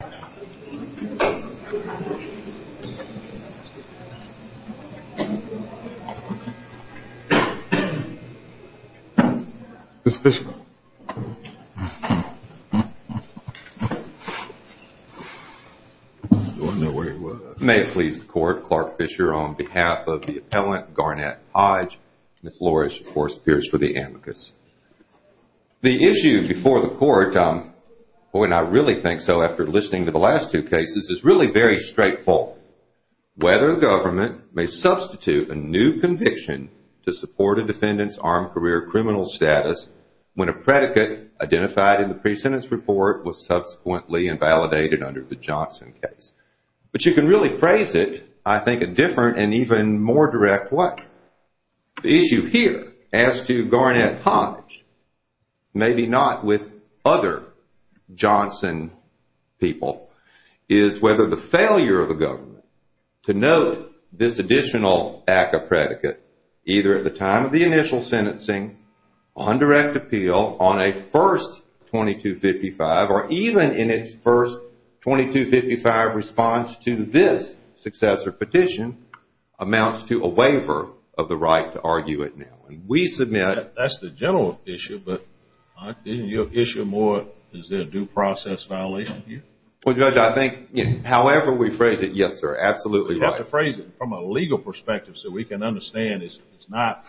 May it please the court, Clark Fisher on behalf of the appellant Garnett Hodge, Ms. Lorish of course appears for the amicus. The issue before the court, and I really think so after listening to the last two cases, is really very straightforward. Whether the government may substitute a new conviction to support a defendant's armed career criminal status when a predicate identified in the pre-sentence report was subsequently invalidated under the Johnson case. But you can really phrase it, I think, a different and even more direct way. The issue here, as to Garnett Hodge, maybe not with other Johnson people, is whether the failure of the government to note this additional act of predicate, either at the time of the initial sentencing, on direct appeal, on a first 2255, or even in its first 2255 response to this successor petition, amounts to a waiver of the right to argue it now. We submit... That's the general issue, but isn't your issue more is there a due process violation here? Well Judge, I think however we phrase it, yes sir, absolutely right. We have to phrase it from a legal perspective so we can understand it's not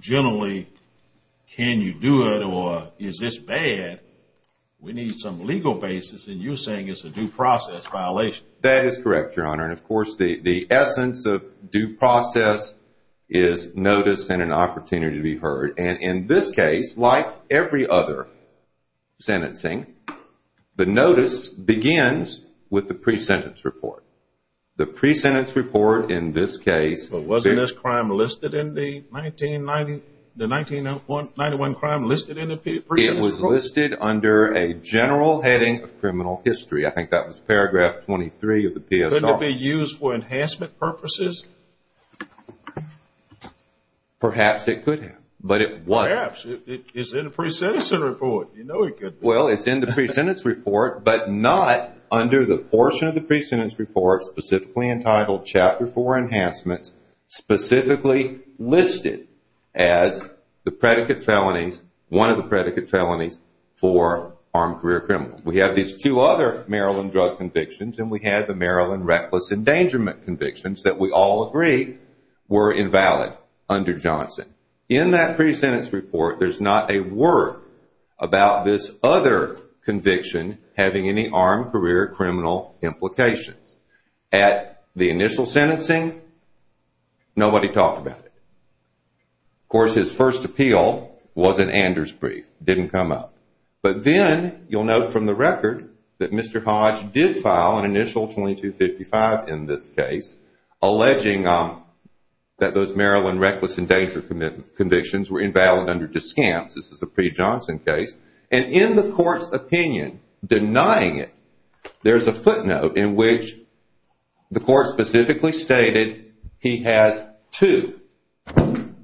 generally can you do it or is this bad. We need some legal basis and you're saying it's a due process violation. That is correct, your honor, and of course the essence of due process is notice and an opportunity to be heard. And in this case, like every other sentencing, the notice begins with the pre-sentence report. The pre-sentence report in this case... But wasn't this crime listed in the 1991 crime listed in the pre-sentence report? It was listed under a general heading of criminal history. I think that was paragraph 23 of the PSR. Couldn't it be used for enhancement purposes? Perhaps it could have, but it wasn't. Perhaps. It's in the pre-sentence report. You know it could be. Well, it's in the pre-sentence report, but not under the portion of the pre-sentence report, specifically entitled Chapter 4 Enhancements, specifically listed as the predicate felonies, one of the predicate felonies for armed career criminals. We have these two other Maryland drug convictions and we have the Maryland reckless endangerment convictions that we all agree were invalid under Johnson. In that pre-sentence report, there's not a word about this other conviction having any armed career criminal implications. At the initial sentencing, nobody talked about it. Of course, his first appeal was an Anders brief. It didn't come up. But then you'll note from the record that Mr. Hodge did file an initial 2255 in this case, alleging that those Maryland reckless endangerment convictions were invalid under Descamps. This is a pre-Johnson case. In the court's opinion, denying it, there's a footnote in which the court specifically stated he has two,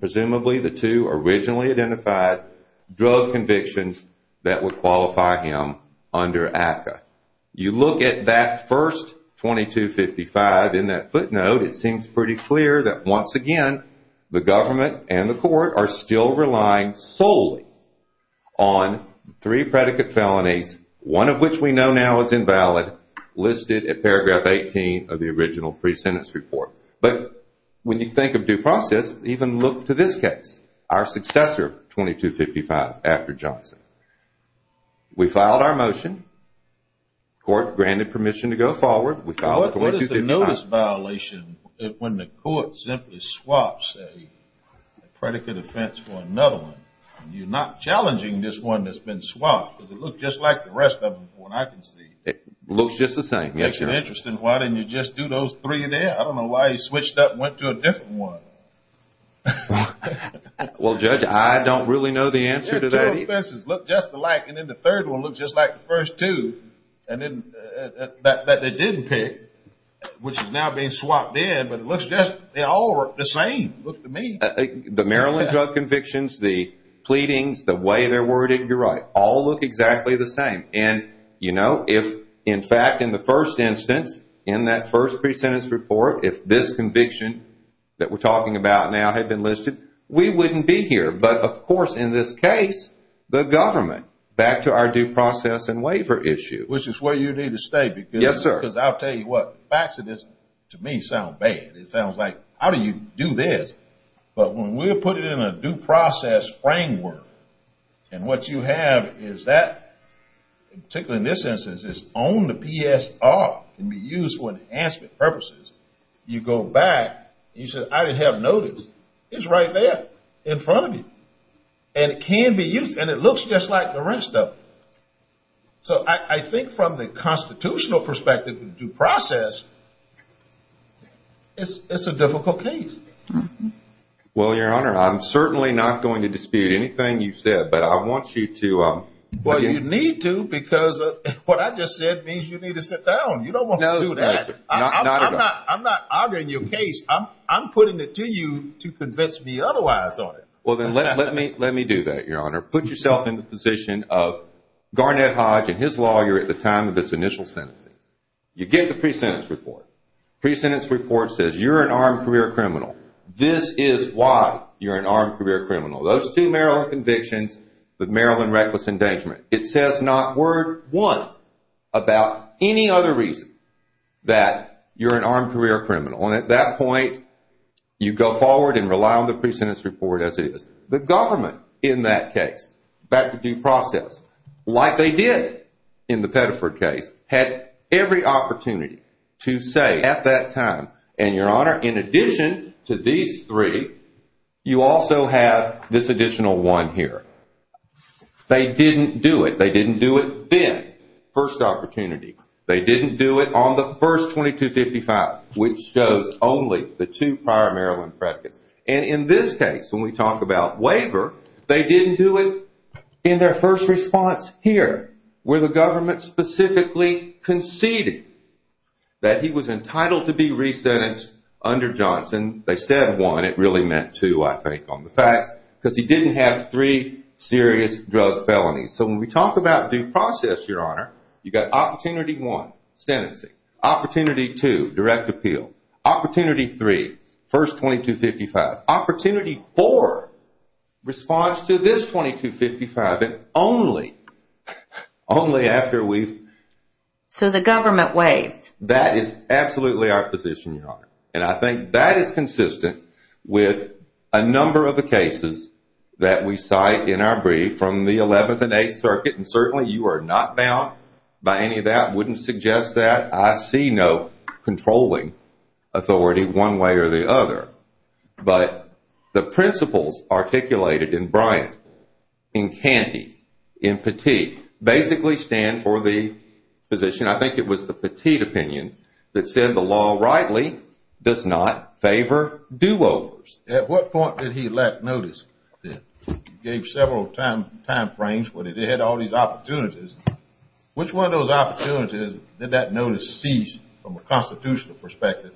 presumably the two originally identified, drug convictions that would qualify him under ACCA. You look at that first 2255 in that footnote, it seems pretty clear that once again, the government and the court are still relying solely on three predicate felonies, one of which we know now is invalid, listed at paragraph 18 of the original pre-sentence report. But when you think of due process, even look to this case, our successor 2255 after Johnson. We filed our motion. Court granted permission to go forward. What is the notice violation when the court simply swaps a predicate offense for another one? You're not challenging this one that's been swapped because it looks just like the rest of them from what I can see. It looks just the same. That's interesting. Why didn't you just do those three there? I don't know why he switched up and went to a different one. Well, Judge, I don't really know the answer to that either. And then the third one looks just like the first two that they didn't pick, which is now being swapped in. But it looks just, they all look the same. Look to me. The Maryland drug convictions, the pleadings, the way they're worded, you're right, all look exactly the same. And, you know, if, in fact, in the first instance, in that first pre-sentence report, if this conviction that we're talking about now had been listed, we wouldn't be here. But, of course, in this case, the government. Back to our due process and waiver issue. Which is where you need to stay. Yes, sir. Because I'll tell you what. The facts of this, to me, sound bad. It sounds like, how do you do this? But when we put it in a due process framework, and what you have is that, particularly in this instance, is on the PSR can be used for enhancement purposes. You go back. You say, I didn't have notice. It's right there in front of you. And it can be used. And it looks just like the rest of them. So I think from the constitutional perspective of due process, it's a difficult case. Well, Your Honor, I'm certainly not going to dispute anything you've said. But I want you to. Well, you need to because what I just said means you need to sit down. You don't want to do that. No, sir. I'm not arguing your case. I'm putting it to you to convince me otherwise on it. Well, then let me do that, Your Honor. Put yourself in the position of Garnett Hodge and his lawyer at the time of this initial sentencing. You get the pre-sentence report. Pre-sentence report says you're an armed career criminal. This is why you're an armed career criminal. Those two Maryland convictions with Maryland reckless endangerment. It says not word one about any other reason that you're an armed career criminal. And at that point, you go forward and rely on the pre-sentence report as it is. The government in that case, back to due process, like they did in the Pettiford case, had every opportunity to say at that time, and Your Honor, in addition to these three, you also have this additional one here. They didn't do it. They didn't do it then. First opportunity. They didn't do it on the first 2255, which shows only the two prior Maryland predicates. And in this case, when we talk about waiver, they didn't do it in their first response here, where the government specifically conceded that he was entitled to be re-sentenced under Johnson. They said one. It really meant two, I think, on the facts. Because he didn't have three serious drug felonies. So when we talk about due process, Your Honor, you've got opportunity one, sentencing. Opportunity two, direct appeal. Opportunity three, first 2255. Opportunity four, response to this 2255, and only after we've... So the government waived. That is absolutely our position, Your Honor. And I think that is consistent with a number of the cases that we cite in our brief from the 11th and 8th Circuit. And certainly you are not bound by any of that. I wouldn't suggest that. I see no controlling authority one way or the other. But the principles articulated in Bryant, in Canty, in Petit, basically stand for the position. And I think it was the Petit opinion that said the law rightly does not favor do-overs. At what point did he lack notice? You gave several time frames, but it had all these opportunities. Which one of those opportunities did that notice cease from a constitutional perspective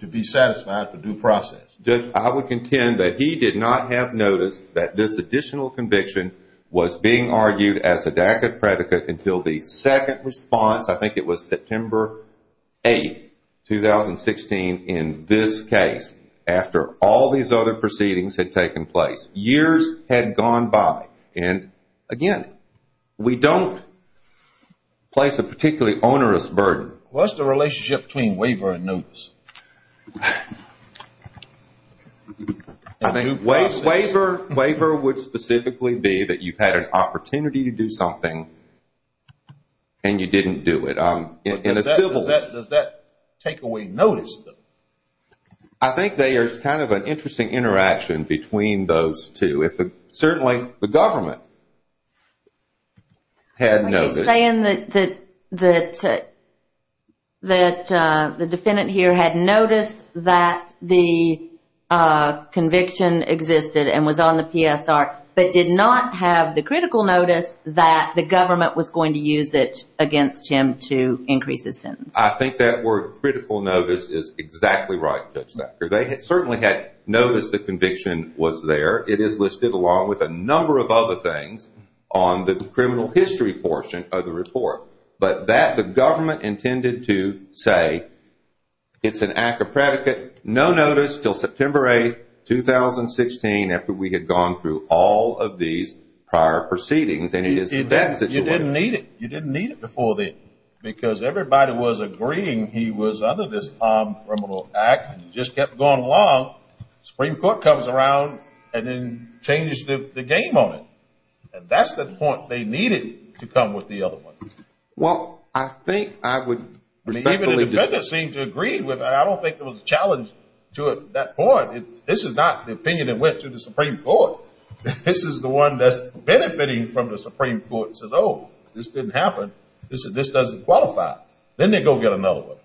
to be satisfied for due process? Judge, I would contend that he did not have notice that this additional conviction was being argued as a DACA predicate until the second response. I think it was September 8th, 2016, in this case, after all these other proceedings had taken place. Years had gone by. And, again, we don't place a particularly onerous burden. What's the relationship between waiver and notice? I think waiver would specifically be that you've had an opportunity to do something and you didn't do it. Does that take away notice? I think there's kind of an interesting interaction between those two. Certainly the government had notice. You're saying that the defendant here had notice that the conviction existed and was on the PSR, but did not have the critical notice that the government was going to use it against him to increase his sentence. I think that word, critical notice, is exactly right, Judge Thacker. They certainly had notice the conviction was there. It is listed along with a number of other things on the criminal history portion of the report. But the government intended to say it's an ACCA predicate. No notice until September 8th, 2016, after we had gone through all of these prior proceedings. And it is in that situation. You didn't need it. You didn't need it before then because everybody was agreeing he was under this criminal act. It just kept going along. Supreme Court comes around and then changes the game on it. And that's the point they needed to come with the other one. Well, I think I would respectfully disagree. Even the defendant seemed to agree with it. I don't think there was a challenge to it at that point. This is not the opinion that went to the Supreme Court. This is the one that's benefiting from the Supreme Court and says, oh, this didn't happen. This doesn't qualify. Then they go get another one.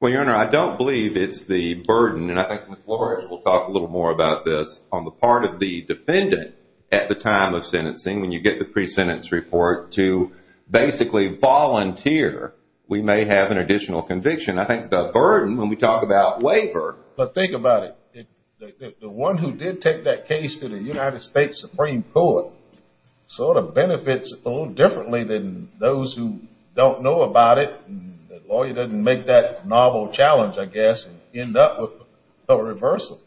Well, Your Honor, I don't believe it's the burden. And I think Ms. Flores will talk a little more about this on the part of the defendant at the time of sentencing when you get the pre-sentence report to basically volunteer. We may have an additional conviction. I think the burden when we talk about waiver. But think about it. The one who did take that case to the United States Supreme Court sort of benefits a little differently than those who don't know about it. The lawyer doesn't make that novel challenge, I guess, and end up with a reversal.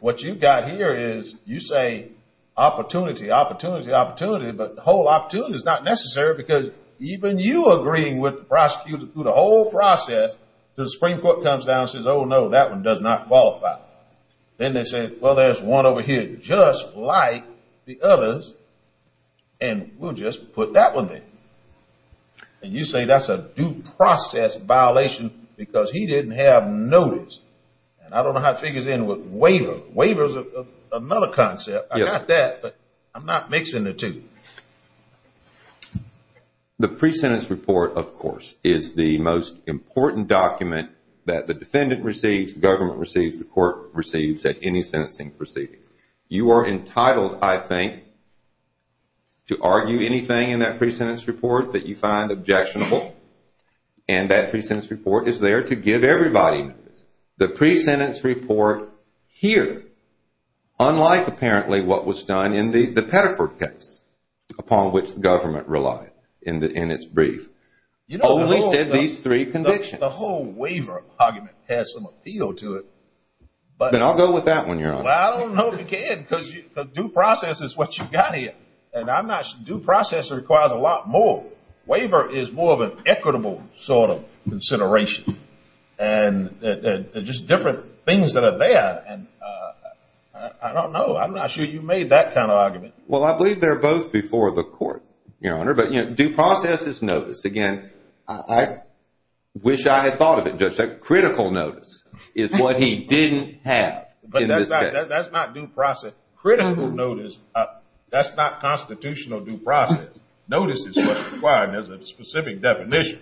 What you've got here is you say opportunity, opportunity, opportunity, but the whole opportunity is not necessary because even you agreeing with the prosecutor through the whole process, the Supreme Court comes down and says, oh, no, that one does not qualify. Then they say, well, there's one over here just like the others, and we'll just put that one in. And you say that's a due process violation because he didn't have notice. And I don't know how it figures in with waiver. Waiver is another concept. I got that, but I'm not mixing the two. The pre-sentence report, of course, is the most important document that the defendant receives, the government receives, the court receives at any sentencing proceeding. You are entitled, I think, to argue anything in that pre-sentence report that you find objectionable, and that pre-sentence report is there to give everybody notice. The pre-sentence report here, unlike apparently what was done in the Petterford case, upon which the government relied in its brief, only said these three convictions. The whole waiver argument has some appeal to it. Then I'll go with that one, Your Honor. Well, I don't know if you can because the due process is what you've got here, and due process requires a lot more. Waiver is more of an equitable sort of consideration, and just different things that are there. I don't know. I'm not sure you made that kind of argument. Well, I believe they're both before the court, Your Honor, but due process is notice. Again, I wish I had thought of it, Judge, that critical notice is what he didn't have. But that's not due process. Critical notice, that's not constitutional due process. Notice is what's required, and there's a specific definition.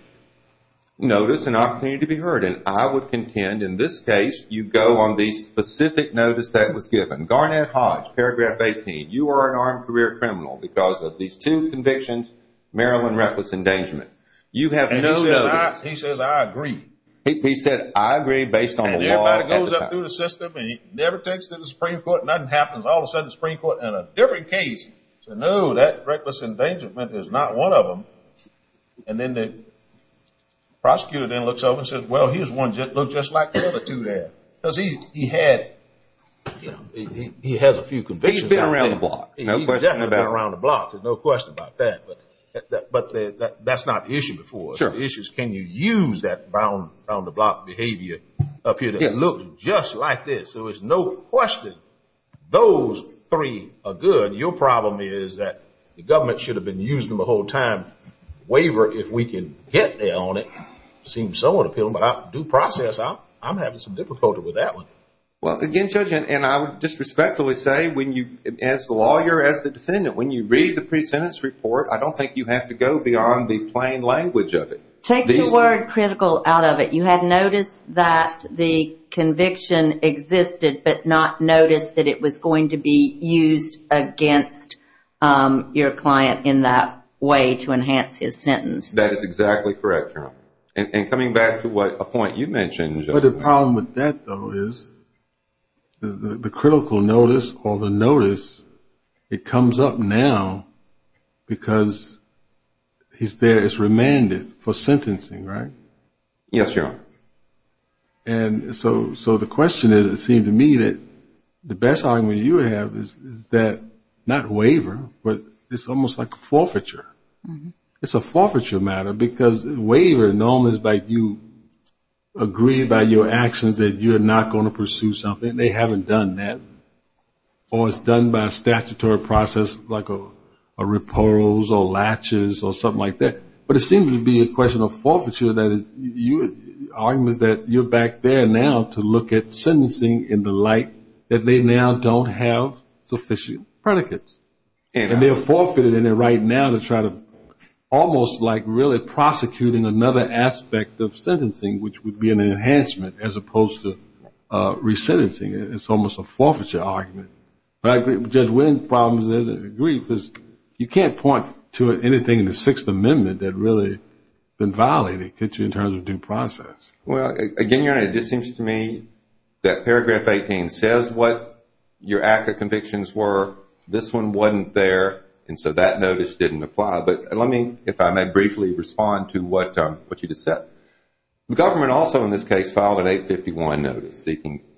Notice and opportunity to be heard. And I would contend in this case you go on the specific notice that was given. Garnett Hodge, paragraph 18, you are an armed career criminal because of these two convictions, Maryland reckless endangerment. And he says I agree. He said I agree based on the law. And everybody goes up through the system and he never takes it to the Supreme Court. Nothing happens. All of a sudden, the Supreme Court in a different case said, no, that reckless endangerment is not one of them. And then the prosecutor then looks over and says, well, he's one just like the other two there. Because he had a few convictions. He's been around the block. He's definitely been around the block. There's no question about that. But that's not the issue before. Sure. But the issue is can you use that around the block behavior up here that looks just like this. So it's no question those three are good. Your problem is that the government should have been using them the whole time. Waiver, if we can get there on it, seems so unappealing. But due process, I'm having some difficulty with that one. Well, again, Judge, and I would just respectfully say as the lawyer, as the defendant, when you read the pre-sentence report, I don't think you have to go beyond the plain language of it. Take the word critical out of it. You had noticed that the conviction existed, but not noticed that it was going to be used against your client in that way to enhance his sentence. That is exactly correct, Your Honor. And coming back to a point you mentioned, Judge. The other problem with that, though, is the critical notice or the notice, it comes up now because he's there as remanded for sentencing, right? Yes, Your Honor. And so the question is, it seems to me, that the best argument you have is that not waiver, but it's almost like forfeiture. It's a forfeiture matter because waiver is known as you agree by your actions that you're not going to pursue something, and they haven't done that. Or it's done by a statutory process like a repose or latches or something like that. But it seems to be a question of forfeiture, that is, your argument is that you're back there now to look at sentencing in the light that they now don't have sufficient predicates. And they're forfeited in it right now to try to almost like really prosecuting another aspect of sentencing, which would be an enhancement as opposed to resentencing. It's almost a forfeiture argument. But I agree with Judge Wynn's problems. I agree because you can't point to anything in the Sixth Amendment that really has been violated, could you, in terms of due process. Well, again, Your Honor, it just seems to me that Paragraph 18 says what your ACCA convictions were. This one wasn't there, and so that notice didn't apply. But let me, if I may briefly respond to what you just said. The government also in this case filed an 851 notice,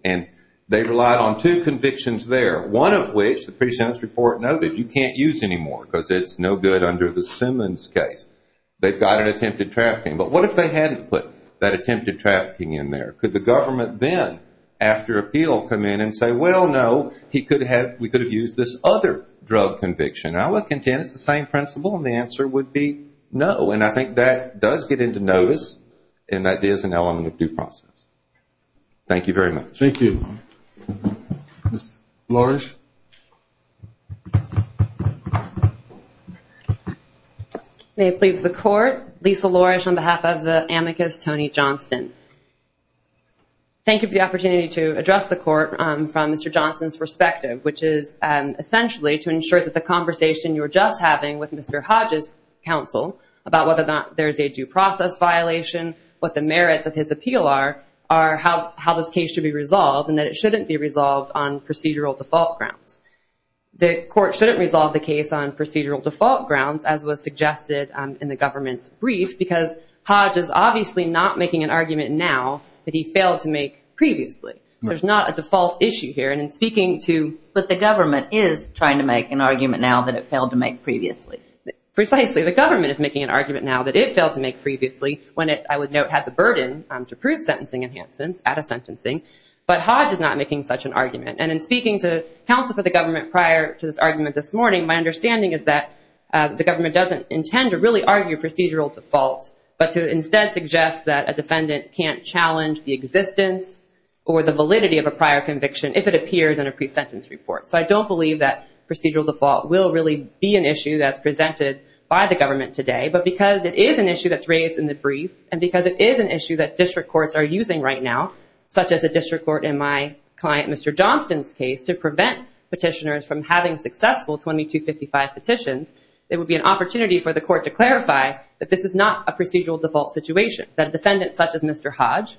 and they relied on two convictions there, one of which the pre-sentence report noted you can't use anymore because it's no good under the Simmons case. They've got an attempted trafficking. But what if they hadn't put that attempted trafficking in there? Could the government then, after appeal, come in and say, well, no, we could have used this other drug conviction? I would contend it's the same principle, and the answer would be no. And I think that does get into notice, and that is an element of due process. Thank you very much. Thank you. Ms. Lorish. May it please the Court. Lisa Lorish on behalf of the amicus Tony Johnston. Thank you for the opportunity to address the Court from Mr. Johnston's perspective, which is essentially to ensure that the conversation you were just having with Mr. Hodge's counsel about whether or not there is a due process violation, what the merits of his appeal are, how this case should be resolved, and that it shouldn't be resolved on procedural default grounds. The Court shouldn't resolve the case on procedural default grounds, as was suggested in the government's brief, because Hodge is obviously not making an argument now that he failed to make previously. There's not a default issue here. But the government is trying to make an argument now that it failed to make previously. Precisely. The government is making an argument now that it failed to make previously, when it, I would note, had the burden to prove sentencing enhancements at a sentencing. But Hodge is not making such an argument. And in speaking to counsel for the government prior to this argument this morning, my understanding is that the government doesn't intend to really argue procedural default, but to instead suggest that a defendant can't challenge the existence or the validity of a prior conviction if it appears in a pre-sentence report. So I don't believe that procedural default will really be an issue that's presented by the government today. But because it is an issue that's raised in the brief, and because it is an issue that district courts are using right now, such as a district court in my client, Mr. Johnston's case, to prevent petitioners from having successful 2255 petitions, it would be an opportunity for the court to clarify that this is not a procedural default situation. That a defendant such as Mr. Hodge,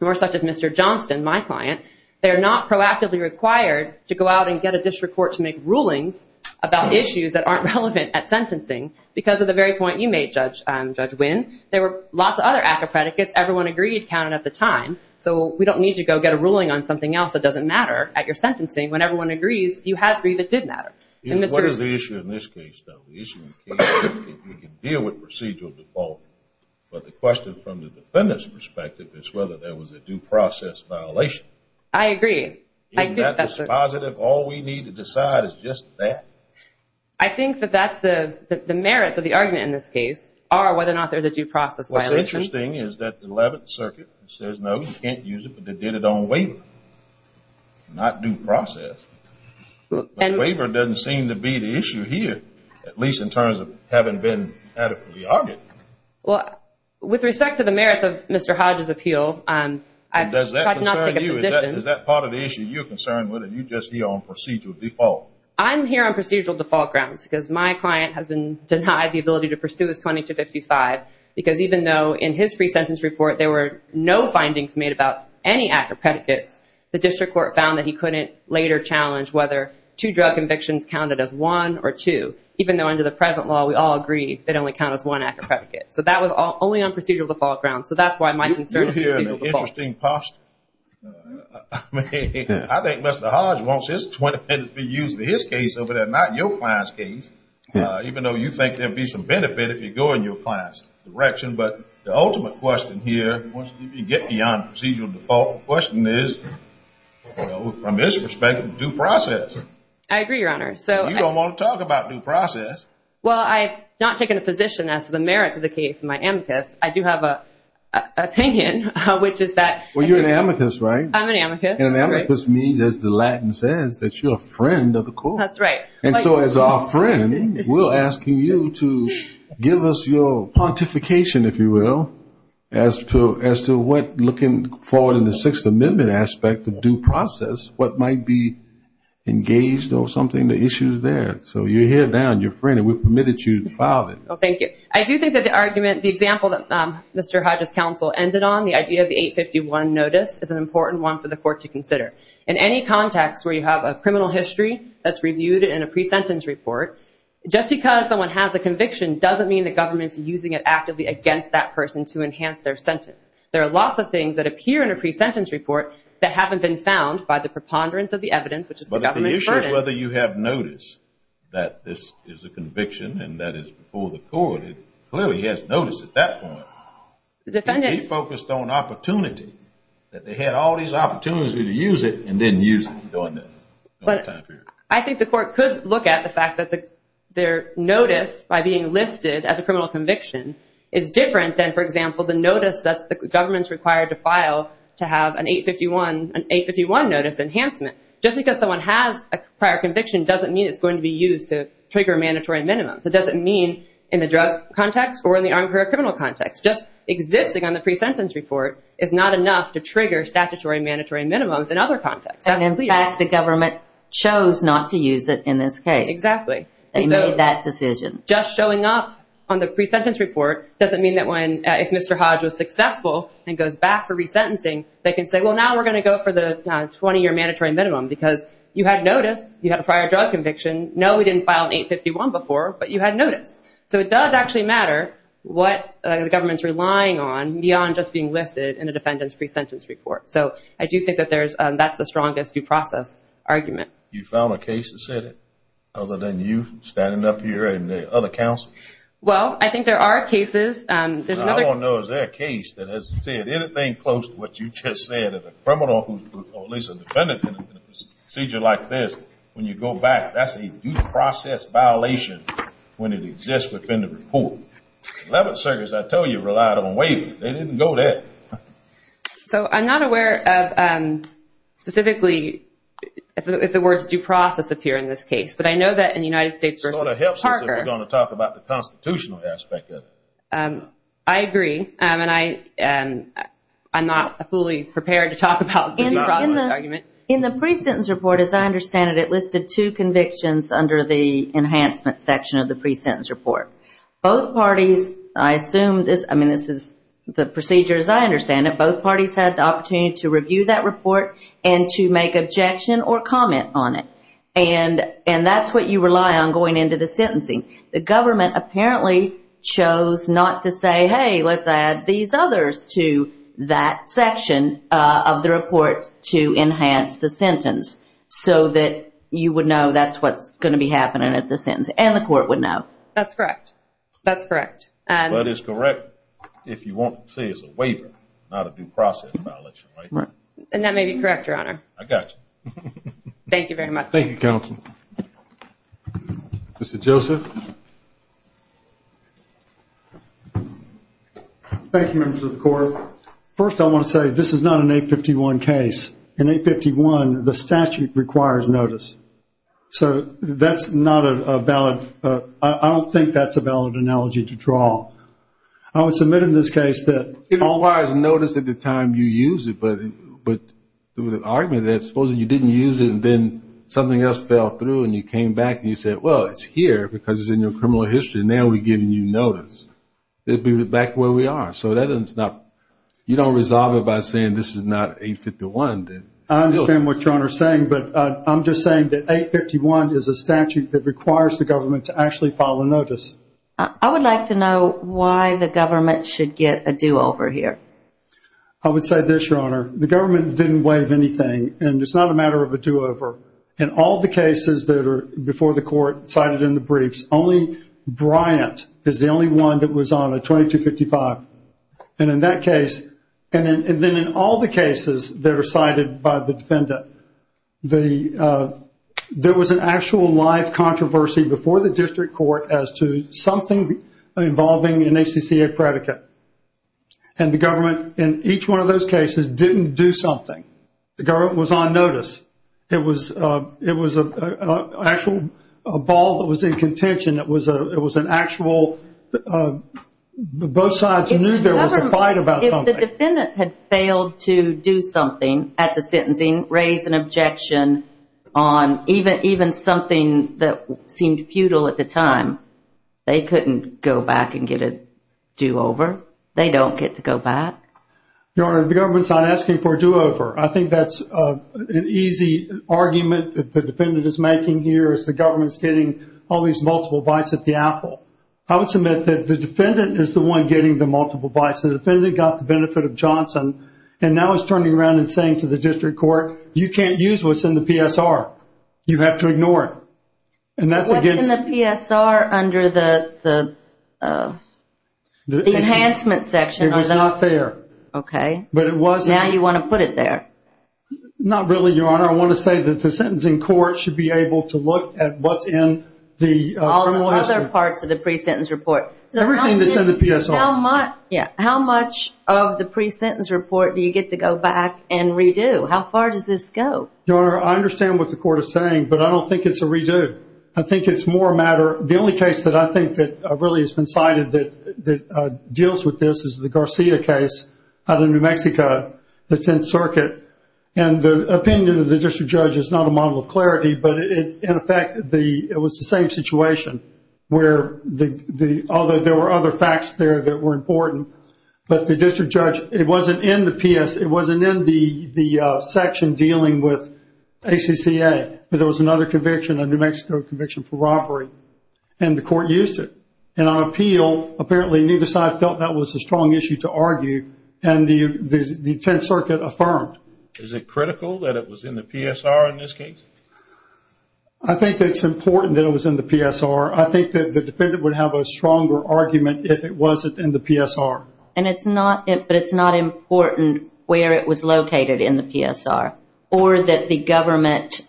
or such as Mr. Johnston, my client, they are not proactively required to go out and get a district court to make rulings about issues that aren't relevant at sentencing because of the very point you made, Judge Wynn. There were lots of other ACCA predicates. Everyone agreed counted at the time. So we don't need to go get a ruling on something else that doesn't matter at your sentencing. When everyone agrees, you have three that did matter. What is the issue in this case, though? The issue in the case is if we can deal with procedural default. But the question from the defendant's perspective is whether there was a due process violation. I agree. That's a positive. All we need to decide is just that. I think that that's the merits of the argument in this case, are whether or not there's a due process violation. What's interesting is that the 11th Circuit says, no, you can't use it, but they did it on waiver. Not due process. But the waiver doesn't seem to be the issue here, at least in terms of having been adequately argued. Well, with respect to the merits of Mr. Hodge's appeal, I'm not going to take a position. Does that concern you? Is that part of the issue you're concerned with, or are you just here on procedural default? I'm here on procedural default grounds because my client has been denied the ability to pursue his 2255 because even though in his pre-sentence report there were no findings made about any active predicates, the district court found that he couldn't later challenge whether two drug convictions counted as one or two, even though under the present law we all agree they only count as one active predicate. So that was only on procedural default grounds. So that's why my concern is procedural default. You're in an interesting posture. I think Mr. Hodge wants his 20 credits to be used in his case over there, not in your client's case, even though you think there would be some benefit if you go in your client's direction. But the ultimate question here, once you get beyond procedural default, the question is, from his perspective, due process. I agree, Your Honor. You don't want to talk about due process. Well, I've not taken a position as to the merits of the case in my amicus. I do have an opinion, which is that – Well, you're an amicus, right? I'm an amicus. An amicus means, as the Latin says, that you're a friend of the court. That's right. And so as our friend, we're asking you to give us your pontification, if you will, as to what looking forward in the Sixth Amendment aspect of due process, what might be engaged or something, the issues there. So you're here now, and you're a friend, and we've permitted you to file it. Thank you. I do think that the argument, the example that Mr. Hodge's counsel ended on, the idea of the 851 notice, is an important one for the court to consider. In any context where you have a criminal history that's reviewed in a pre-sentence report, just because someone has a conviction doesn't mean the government's using it actively against that person to enhance their sentence. There are lots of things that appear in a pre-sentence report that haven't been found by the preponderance of the evidence, which is the government's burden. But the issue is whether you have notice that this is a conviction and that it's before the court. It clearly has notice at that point. The defendant focused on opportunity, that they had all these opportunities to use it and didn't use it during that time period. I think the court could look at the fact that their notice, by being listed as a criminal conviction, is different than, for example, the notice that the government's required to file to have an 851 notice enhancement. Just because someone has a prior conviction doesn't mean it's going to be used to trigger mandatory minimums. It doesn't mean in the drug context or in the armed career criminal context. Just existing on the pre-sentence report is not enough to trigger statutory and mandatory minimums in other contexts. And, in fact, the government chose not to use it in this case. Exactly. They made that decision. Just showing up on the pre-sentence report doesn't mean that if Mr. Hodge was successful and goes back for resentencing, they can say, well, now we're going to go for the 20-year mandatory minimum because you had notice, you had a prior drug conviction. No, we didn't file an 851 before, but you had notice. So it does actually matter what the government's relying on beyond just being listed in a defendant's pre-sentence report. So I do think that that's the strongest due process argument. You found a case that said it, other than you standing up here and the other counsel? Well, I think there are cases. I don't know of a case that has said anything close to what you just said. At least a defendant in a procedure like this, when you go back, that's a due process violation when it exists within the report. 11th Circuit, as I told you, relied on waiver. They didn't go there. So I'm not aware of specifically if the words due process appear in this case. But I know that in the United States versus Parker. It sort of helps us if we're going to talk about the constitutional aspect of it. I agree. And I'm not fully prepared to talk about the due process argument. In the pre-sentence report, as I understand it, it listed two convictions under the enhancement section of the pre-sentence report. Both parties, I assume this, I mean, this is the procedure as I understand it. Both parties had the opportunity to review that report and to make objection or comment on it. And that's what you rely on going into the sentencing. The government apparently chose not to say, hey, let's add these others to that section of the report to enhance the sentence. So that you would know that's what's going to be happening at the sentence. And the court would know. That's correct. That's correct. But it's correct if you want to say it's a waiver, not a due process violation, right? And that may be correct, Your Honor. I got you. Thank you very much. Thank you, Counsel. Mr. Joseph. Thank you, Members of the Court. First, I want to say this is not an 851 case. In 851, the statute requires notice. So that's not a valid, I don't think that's a valid analogy to draw. I would submit in this case that. It requires notice at the time you use it. But there was an argument that supposing you didn't use it and then something else fell through and you came back and you said, well, it's here because it's in your criminal history and now we're giving you notice. It would be back to where we are. So you don't resolve it by saying this is not 851. I understand what Your Honor is saying. But I'm just saying that 851 is a statute that requires the government to actually file a notice. I would like to know why the government should get a do-over here. I would say this, Your Honor. The government didn't waive anything and it's not a matter of a do-over. In all the cases that are before the court cited in the briefs, only Bryant is the only one that was on a 2255. And in that case, and then in all the cases that are cited by the defendant, there was an actual live controversy before the district court as to something involving an ACCA predicate. And the government in each one of those cases didn't do something. The government was on notice. It was an actual ball that was in contention. It was an actual both sides knew there was a fight about something. If the defendant had failed to do something at the sentencing, raise an objection on even something that seemed futile at the time, they couldn't go back and get a do-over. They don't get to go back. Your Honor, the government's not asking for a do-over. I think that's an easy argument that the defendant is making here as the government's getting all these multiple bites at the apple. I would submit that the defendant is the one getting the multiple bites. The defendant got the benefit of Johnson and now is turning around and saying to the district court, you can't use what's in the PSR. You have to ignore it. What's in the PSR under the enhancement section? It was not there. Okay. Now you want to put it there. Not really, Your Honor. I want to say that the sentencing court should be able to look at what's in the criminal history. All the other parts of the pre-sentence report. Everything that's in the PSR. How much of the pre-sentence report do you get to go back and redo? How far does this go? Your Honor, I understand what the court is saying, but I don't think it's a redo. I think it's more a matter. The only case that I think that really has been cited that deals with this is the Garcia case out of New Mexico, the Tenth Circuit, and the opinion of the district judge is not a model of clarity, but in effect it was the same situation where although there were other facts there that were important, but the district judge, it wasn't in the PS, it wasn't in the section dealing with ACCA, but there was another conviction, a New Mexico conviction for robbery, and the court used it. And on appeal, apparently neither side felt that was a strong issue to argue, and the Tenth Circuit affirmed. Is it critical that it was in the PSR in this case? I think it's important that it was in the PSR. I think that the defendant would have a stronger argument if it wasn't in the PSR. But it's not important where it was located in the PSR, or that the government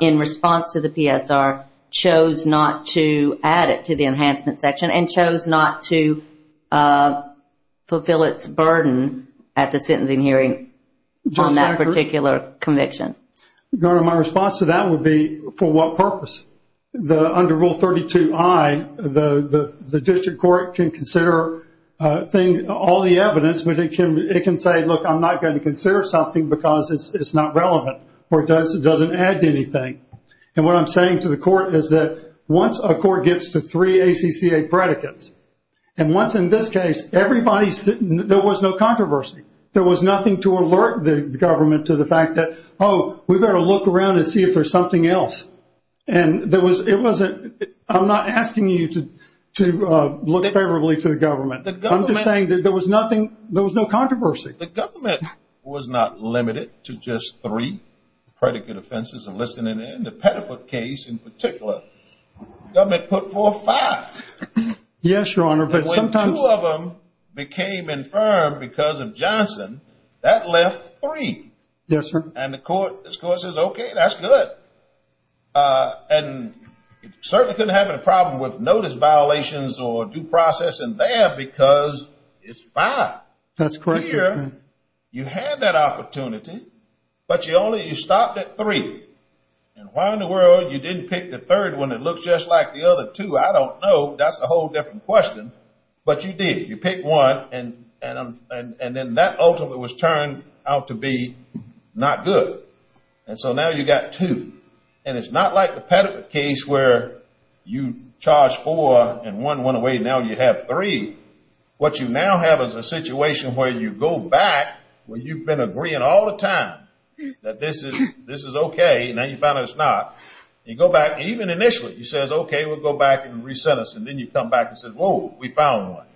in response to the PSR chose not to add it to the enhancement section and chose not to fulfill its burden at the sentencing hearing on that particular conviction. Your Honor, my response to that would be for what purpose? Under Rule 32I, the district court can consider all the evidence, but it can say, look, I'm not going to consider something because it's not relevant, or it doesn't add to anything. And what I'm saying to the court is that once a court gets to three ACCA predicates, and once in this case there was no controversy, there was nothing to alert the government to the fact that, oh, we better look around and see if there's something else. I'm not asking you to look favorably to the government. I'm just saying that there was no controversy. The government was not limited to just three predicate offenses. In the Pettiford case in particular, the government put forth five. Yes, Your Honor. And when two of them became infirmed because of Johnson, that left three. Yes, sir. And the court says, okay, that's good. And certainly couldn't have a problem with notice violations or due process in there because it's five. That's correct, Your Honor. Here, you had that opportunity, but you only stopped at three. And why in the world you didn't pick the third one that looked just like the other two, I don't know. That's a whole different question. But you did. You picked one, and then that ultimately was turned out to be not good. And so now you've got two. And it's not like the Pettiford case where you charged four and one went away, and now you have three. What you now have is a situation where you go back where you've been agreeing all the time that this is okay, and now you found out it's not. You go back, even initially, you say, okay, we'll go back and re-sent us. And then you come back and say, whoa, we found one.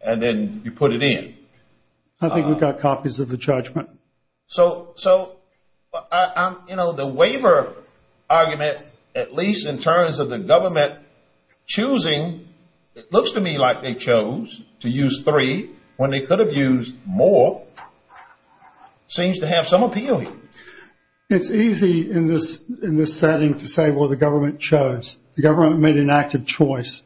And then you put it in. I think we've got copies of the judgment. So, you know, the waiver argument, at least in terms of the government choosing, it looks to me like they chose to use three when they could have used more, seems to have some appeal here. It's easy in this setting to say, well, the government chose. The government made an active choice.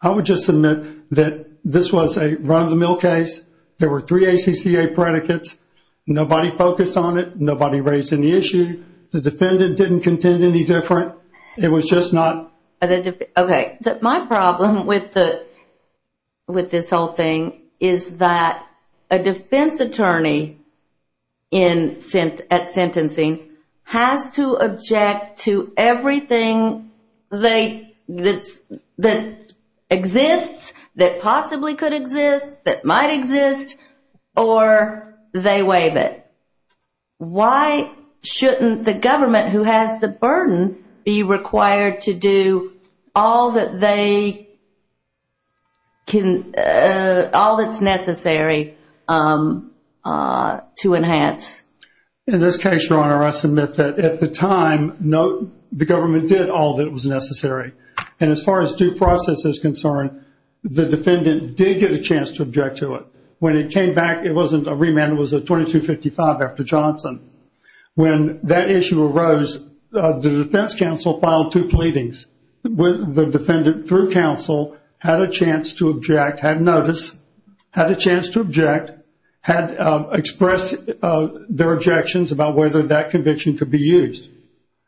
I would just submit that this was a run-of-the-mill case. There were three ACCA predicates. Nobody focused on it. Nobody raised any issue. The defendant didn't contend any different. It was just not. Okay. My problem with this whole thing is that a defense attorney at sentencing has to object to everything that exists, that possibly could exist, that might exist, or they waive it. Why shouldn't the government, who has the burden, be required to do all that they can, all that's necessary to enhance? In this case, Your Honor, I submit that at the time, no, the government did all that was necessary. And as far as due process is concerned, the defendant did get a chance to object to it. When it came back, it wasn't a remand. It was a 2255 after Johnson. When that issue arose, the defense counsel filed two pleadings. The defendant, through counsel, had a chance to object, had notice, had a chance to object, had expressed their objections about whether that conviction could be used.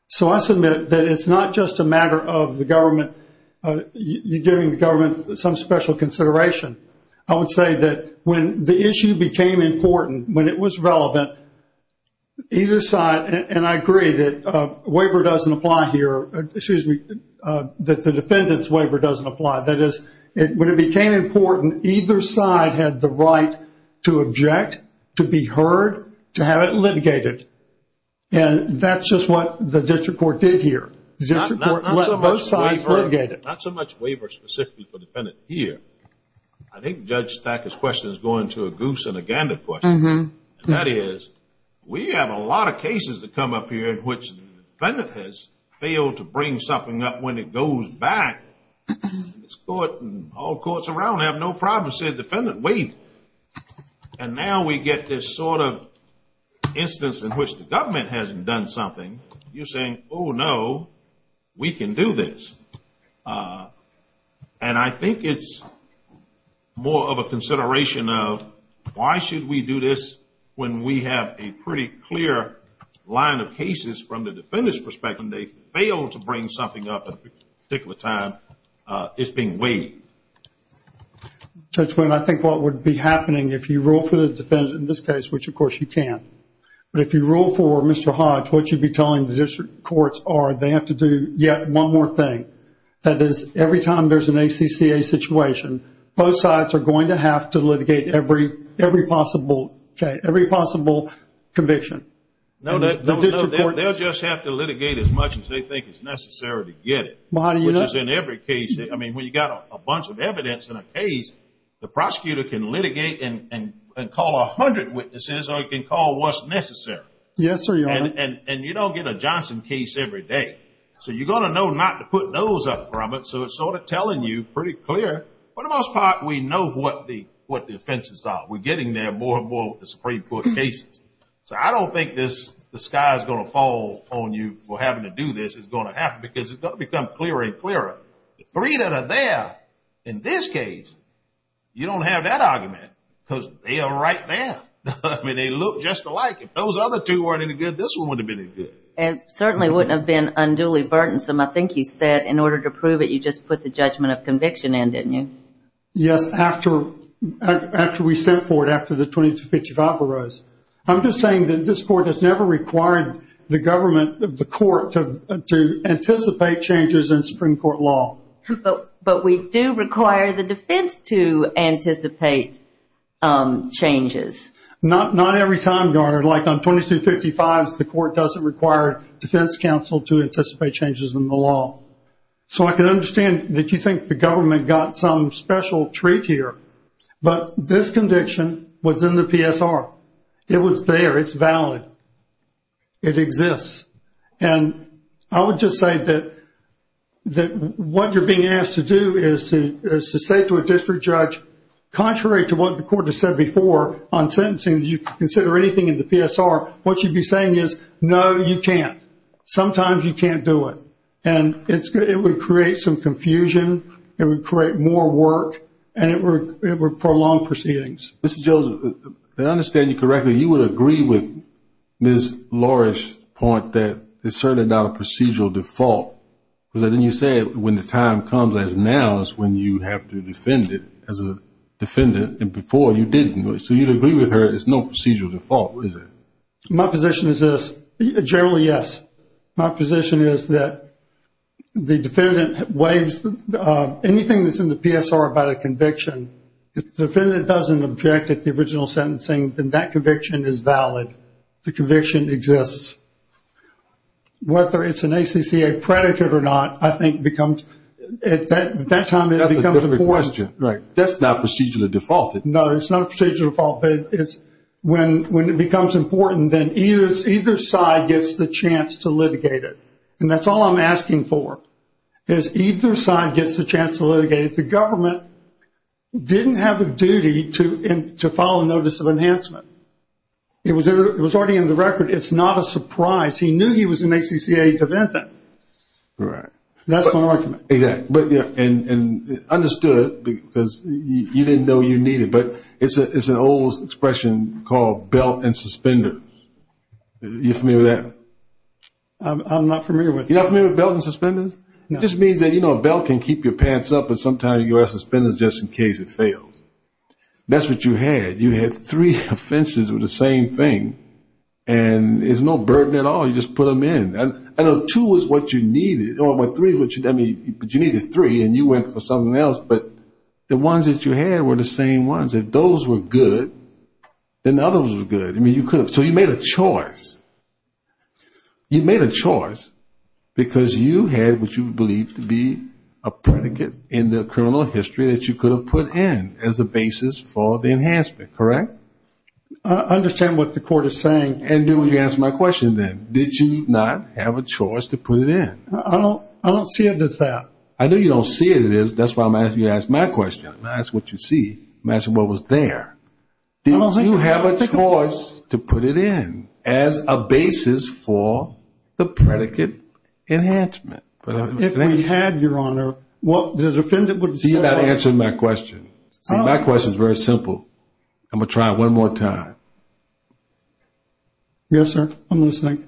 So I submit that it's not just a matter of the government giving the government some special consideration. I would say that when the issue became important, when it was relevant, either side, and I agree that waiver doesn't apply here, excuse me, that the defendant's waiver doesn't apply. That is, when it became important, either side had the right to object, to be heard, to have it litigated. And that's just what the district court did here. The district court let both sides litigate it. Not so much waiver specifically for the defendant here. I think Judge Stackett's question is going to a goose and a gander question. And that is, we have a lot of cases that come up here in which the defendant has failed to bring something up. When it goes back, this court and all courts around have no problem saying, defendant, wait. And now we get this sort of instance in which the government hasn't done something. You're saying, oh, no. We can do this. And I think it's more of a consideration of why should we do this when we have a pretty clear line of cases from the defendant's perspective and they fail to bring something up at a particular time. It's being weighed. Judge Quinn, I think what would be happening if you rule for the defendant in this case, which, of course, you can. But if you rule for Mr. Hodge, what you'd be telling the district courts are they have to do yet one more thing. That is, every time there's an ACCA situation, both sides are going to have to litigate every possible conviction. They'll just have to litigate as much as they think is necessary to get it, which is in every case. I mean, when you've got a bunch of evidence in a case, the prosecutor can litigate and call 100 witnesses or he can call what's necessary. Yes, sir, Your Honor. And you don't get a Johnson case every day. So you're going to know not to put those up from it. So it's sort of telling you pretty clear. For the most part, we know what the offenses are. We're getting there more and more with the Supreme Court cases. So I don't think the sky is going to fall on you for having to do this. It's going to happen because it's going to become clearer and clearer. The three that are there in this case, you don't have that argument because they are right there. I mean, they look just alike. If those other two weren't any good, this one wouldn't have been any good. It certainly wouldn't have been unduly burdensome. I think you said in order to prove it, you just put the judgment of conviction in, didn't you? Yes, after we sent for it, after the 2255 arose. I'm just saying that this court has never required the government, the court, to anticipate changes in Supreme Court law. But we do require the defense to anticipate changes. Not every time, Garner. Like on 2255, the court doesn't require defense counsel to anticipate changes in the law. So I can understand that you think the government got some special treat here. But this conviction was in the PSR. It was there. It's valid. It exists. And I would just say that what you're being asked to do is to say to a district judge, contrary to what the court has said before on sentencing, you can consider anything in the PSR, what you'd be saying is, no, you can't. Sometimes you can't do it. And it would create some confusion. It would create more work. And it would prolong proceedings. Mr. Joseph, if I understand you correctly, you would agree with Ms. Lorish's point that it's certainly not a procedural default. Because then you said when the time comes as now is when you have to defend it as a defendant. And before you didn't. So you'd agree with her it's no procedural default, is it? My position is this. Generally, yes. My position is that the defendant waives anything that's in the PSR about a conviction. If the defendant doesn't object at the original sentencing, then that conviction is valid. The conviction exists. Whether it's an ACCA predicate or not, I think becomes, at that time it becomes important. That's a different question. Right. That's not procedurally defaulted. No, it's not a procedural default. But when it becomes important, then either side gets the chance to litigate it. And that's all I'm asking for, is either side gets the chance to litigate it. Because the government didn't have a duty to file a notice of enhancement. It was already in the record. It's not a surprise. He knew he was an ACCA defendant. Right. That's my argument. Exactly. And understood because you didn't know you needed. But it's an old expression called belt and suspenders. Are you familiar with that? I'm not familiar with it. You're not familiar with belt and suspenders? No. It just means that, you know, a belt can keep your pants up, but sometimes you wear suspenders just in case it fails. That's what you had. You had three offenses with the same thing, and there's no burden at all. You just put them in. I know two is what you needed, or three, but you needed three, and you went for something else. But the ones that you had were the same ones. If those were good, then the others were good. I mean, you could have. So you made a choice. You made a choice because you had what you believed to be a predicate in the criminal history that you could have put in as the basis for the enhancement, correct? I understand what the court is saying. And you answered my question then. Did you not have a choice to put it in? I don't see it as that. I know you don't see it as that. That's why I'm asking you to ask my question. I'm going to ask what you see. I'm going to ask what was there. Did you have a choice to put it in as a basis for the predicate enhancement? If we had, Your Honor, what the defendant would say. See, you're not answering my question. See, my question is very simple. I'm going to try it one more time. Yes, sir. I'm listening.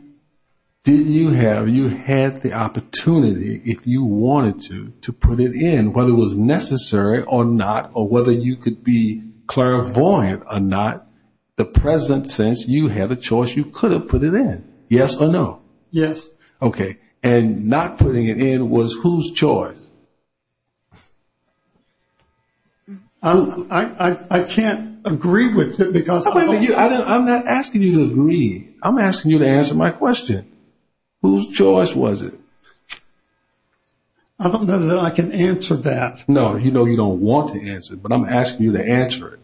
Did you have, you had the opportunity, if you wanted to, to put it in, whether it was necessary or not, or whether you could be clairvoyant or not, the present sense you had a choice you could have put it in, yes or no? Yes. Okay. And not putting it in was whose choice? I can't agree with you because I don't know. I'm not asking you to agree. I'm asking you to answer my question. Whose choice was it? I don't know that I can answer that. No, you know you don't want to answer it, but I'm asking you to answer it.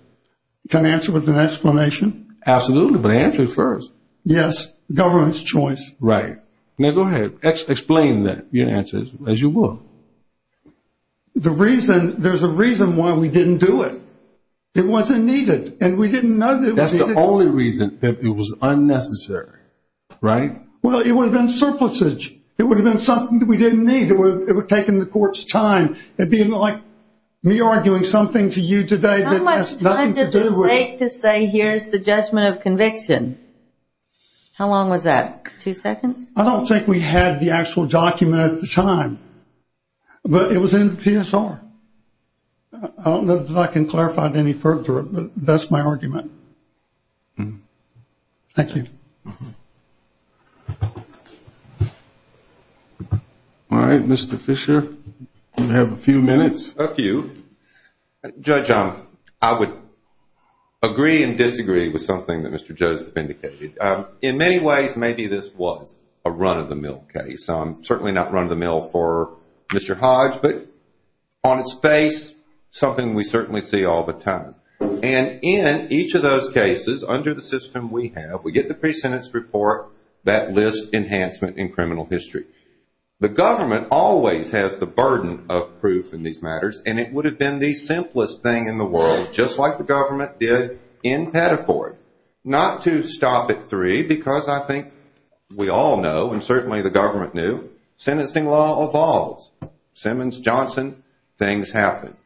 Can I answer with an explanation? Absolutely, but answer it first. Yes, government's choice. Right. Now, go ahead. Explain that, your answers, as you will. The reason, there's a reason why we didn't do it. It wasn't needed, and we didn't know that it was needed. That's the only reason that it was unnecessary, right? Well, it would have been surplusage. It would have been something that we didn't need. It would have taken the court's time. It would be like me arguing something to you today that has nothing to do with it. How much time does it take to say here's the judgment of conviction? How long was that, two seconds? I don't think we had the actual document at the time, but it was in the PSR. I don't know that I can clarify it any further, but that's my argument. Thank you. Thank you. All right, Mr. Fisher, you have a few minutes. A few. Judge, I would agree and disagree with something that Mr. Joseph indicated. In many ways, maybe this was a run-of-the-mill case, certainly not run-of-the-mill for Mr. Hodge, but on its face, something we certainly see all the time. In each of those cases, under the system we have, we get the pre-sentence report that lists enhancement in criminal history. The government always has the burden of proof in these matters, and it would have been the simplest thing in the world, just like the government did in Pettiford. Not to stop at three, because I think we all know, and certainly the government knew, sentencing law evolves. Simmons, Johnson, things happen.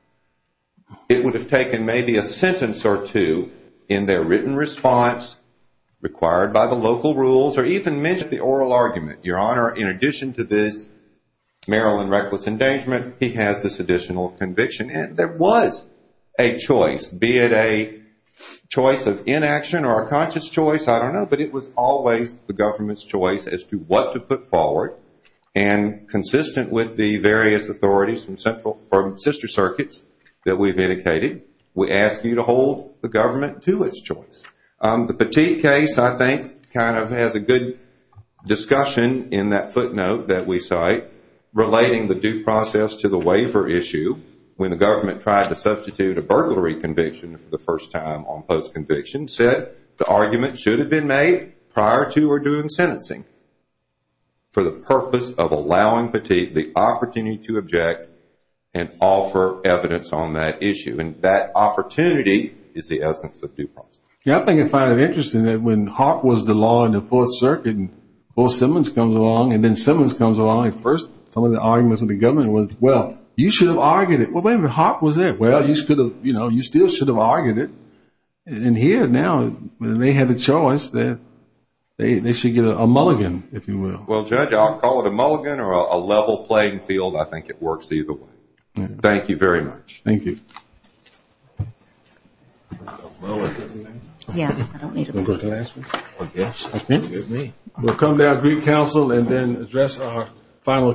It would have taken maybe a sentence or two in their written response, required by the local rules, or even mentioned the oral argument. Your Honor, in addition to this Maryland reckless endangerment, he has this additional conviction, and there was a choice, be it a choice of inaction or a conscious choice, I don't know, but it was always the government's choice as to what to put forward, and consistent with the various authorities from sister circuits that we've indicated, we ask you to hold the government to its choice. The Petit case, I think, kind of has a good discussion in that footnote that we cite, relating the due process to the waiver issue, when the government tried to substitute a burglary conviction for the first time on post-conviction, said the argument should have been made prior to or during sentencing. For the purpose of allowing the opportunity to object and offer evidence on that issue, and that opportunity is the essence of due process. Yeah, I think I find it interesting that when Hawk was the law in the Fourth Circuit, and Bo Simmons comes along, and then Simmons comes along, and first some of the arguments of the government was, well, you should have argued it. Well, wait a minute, Hawk was there. Well, you still should have argued it. And here now, they have a choice that they should get a mulligan, if you will. Well, Judge, I'll call it a mulligan or a level playing field. I think it works either way. Thank you very much. Thank you. We'll come to our brief counsel and then address our final case.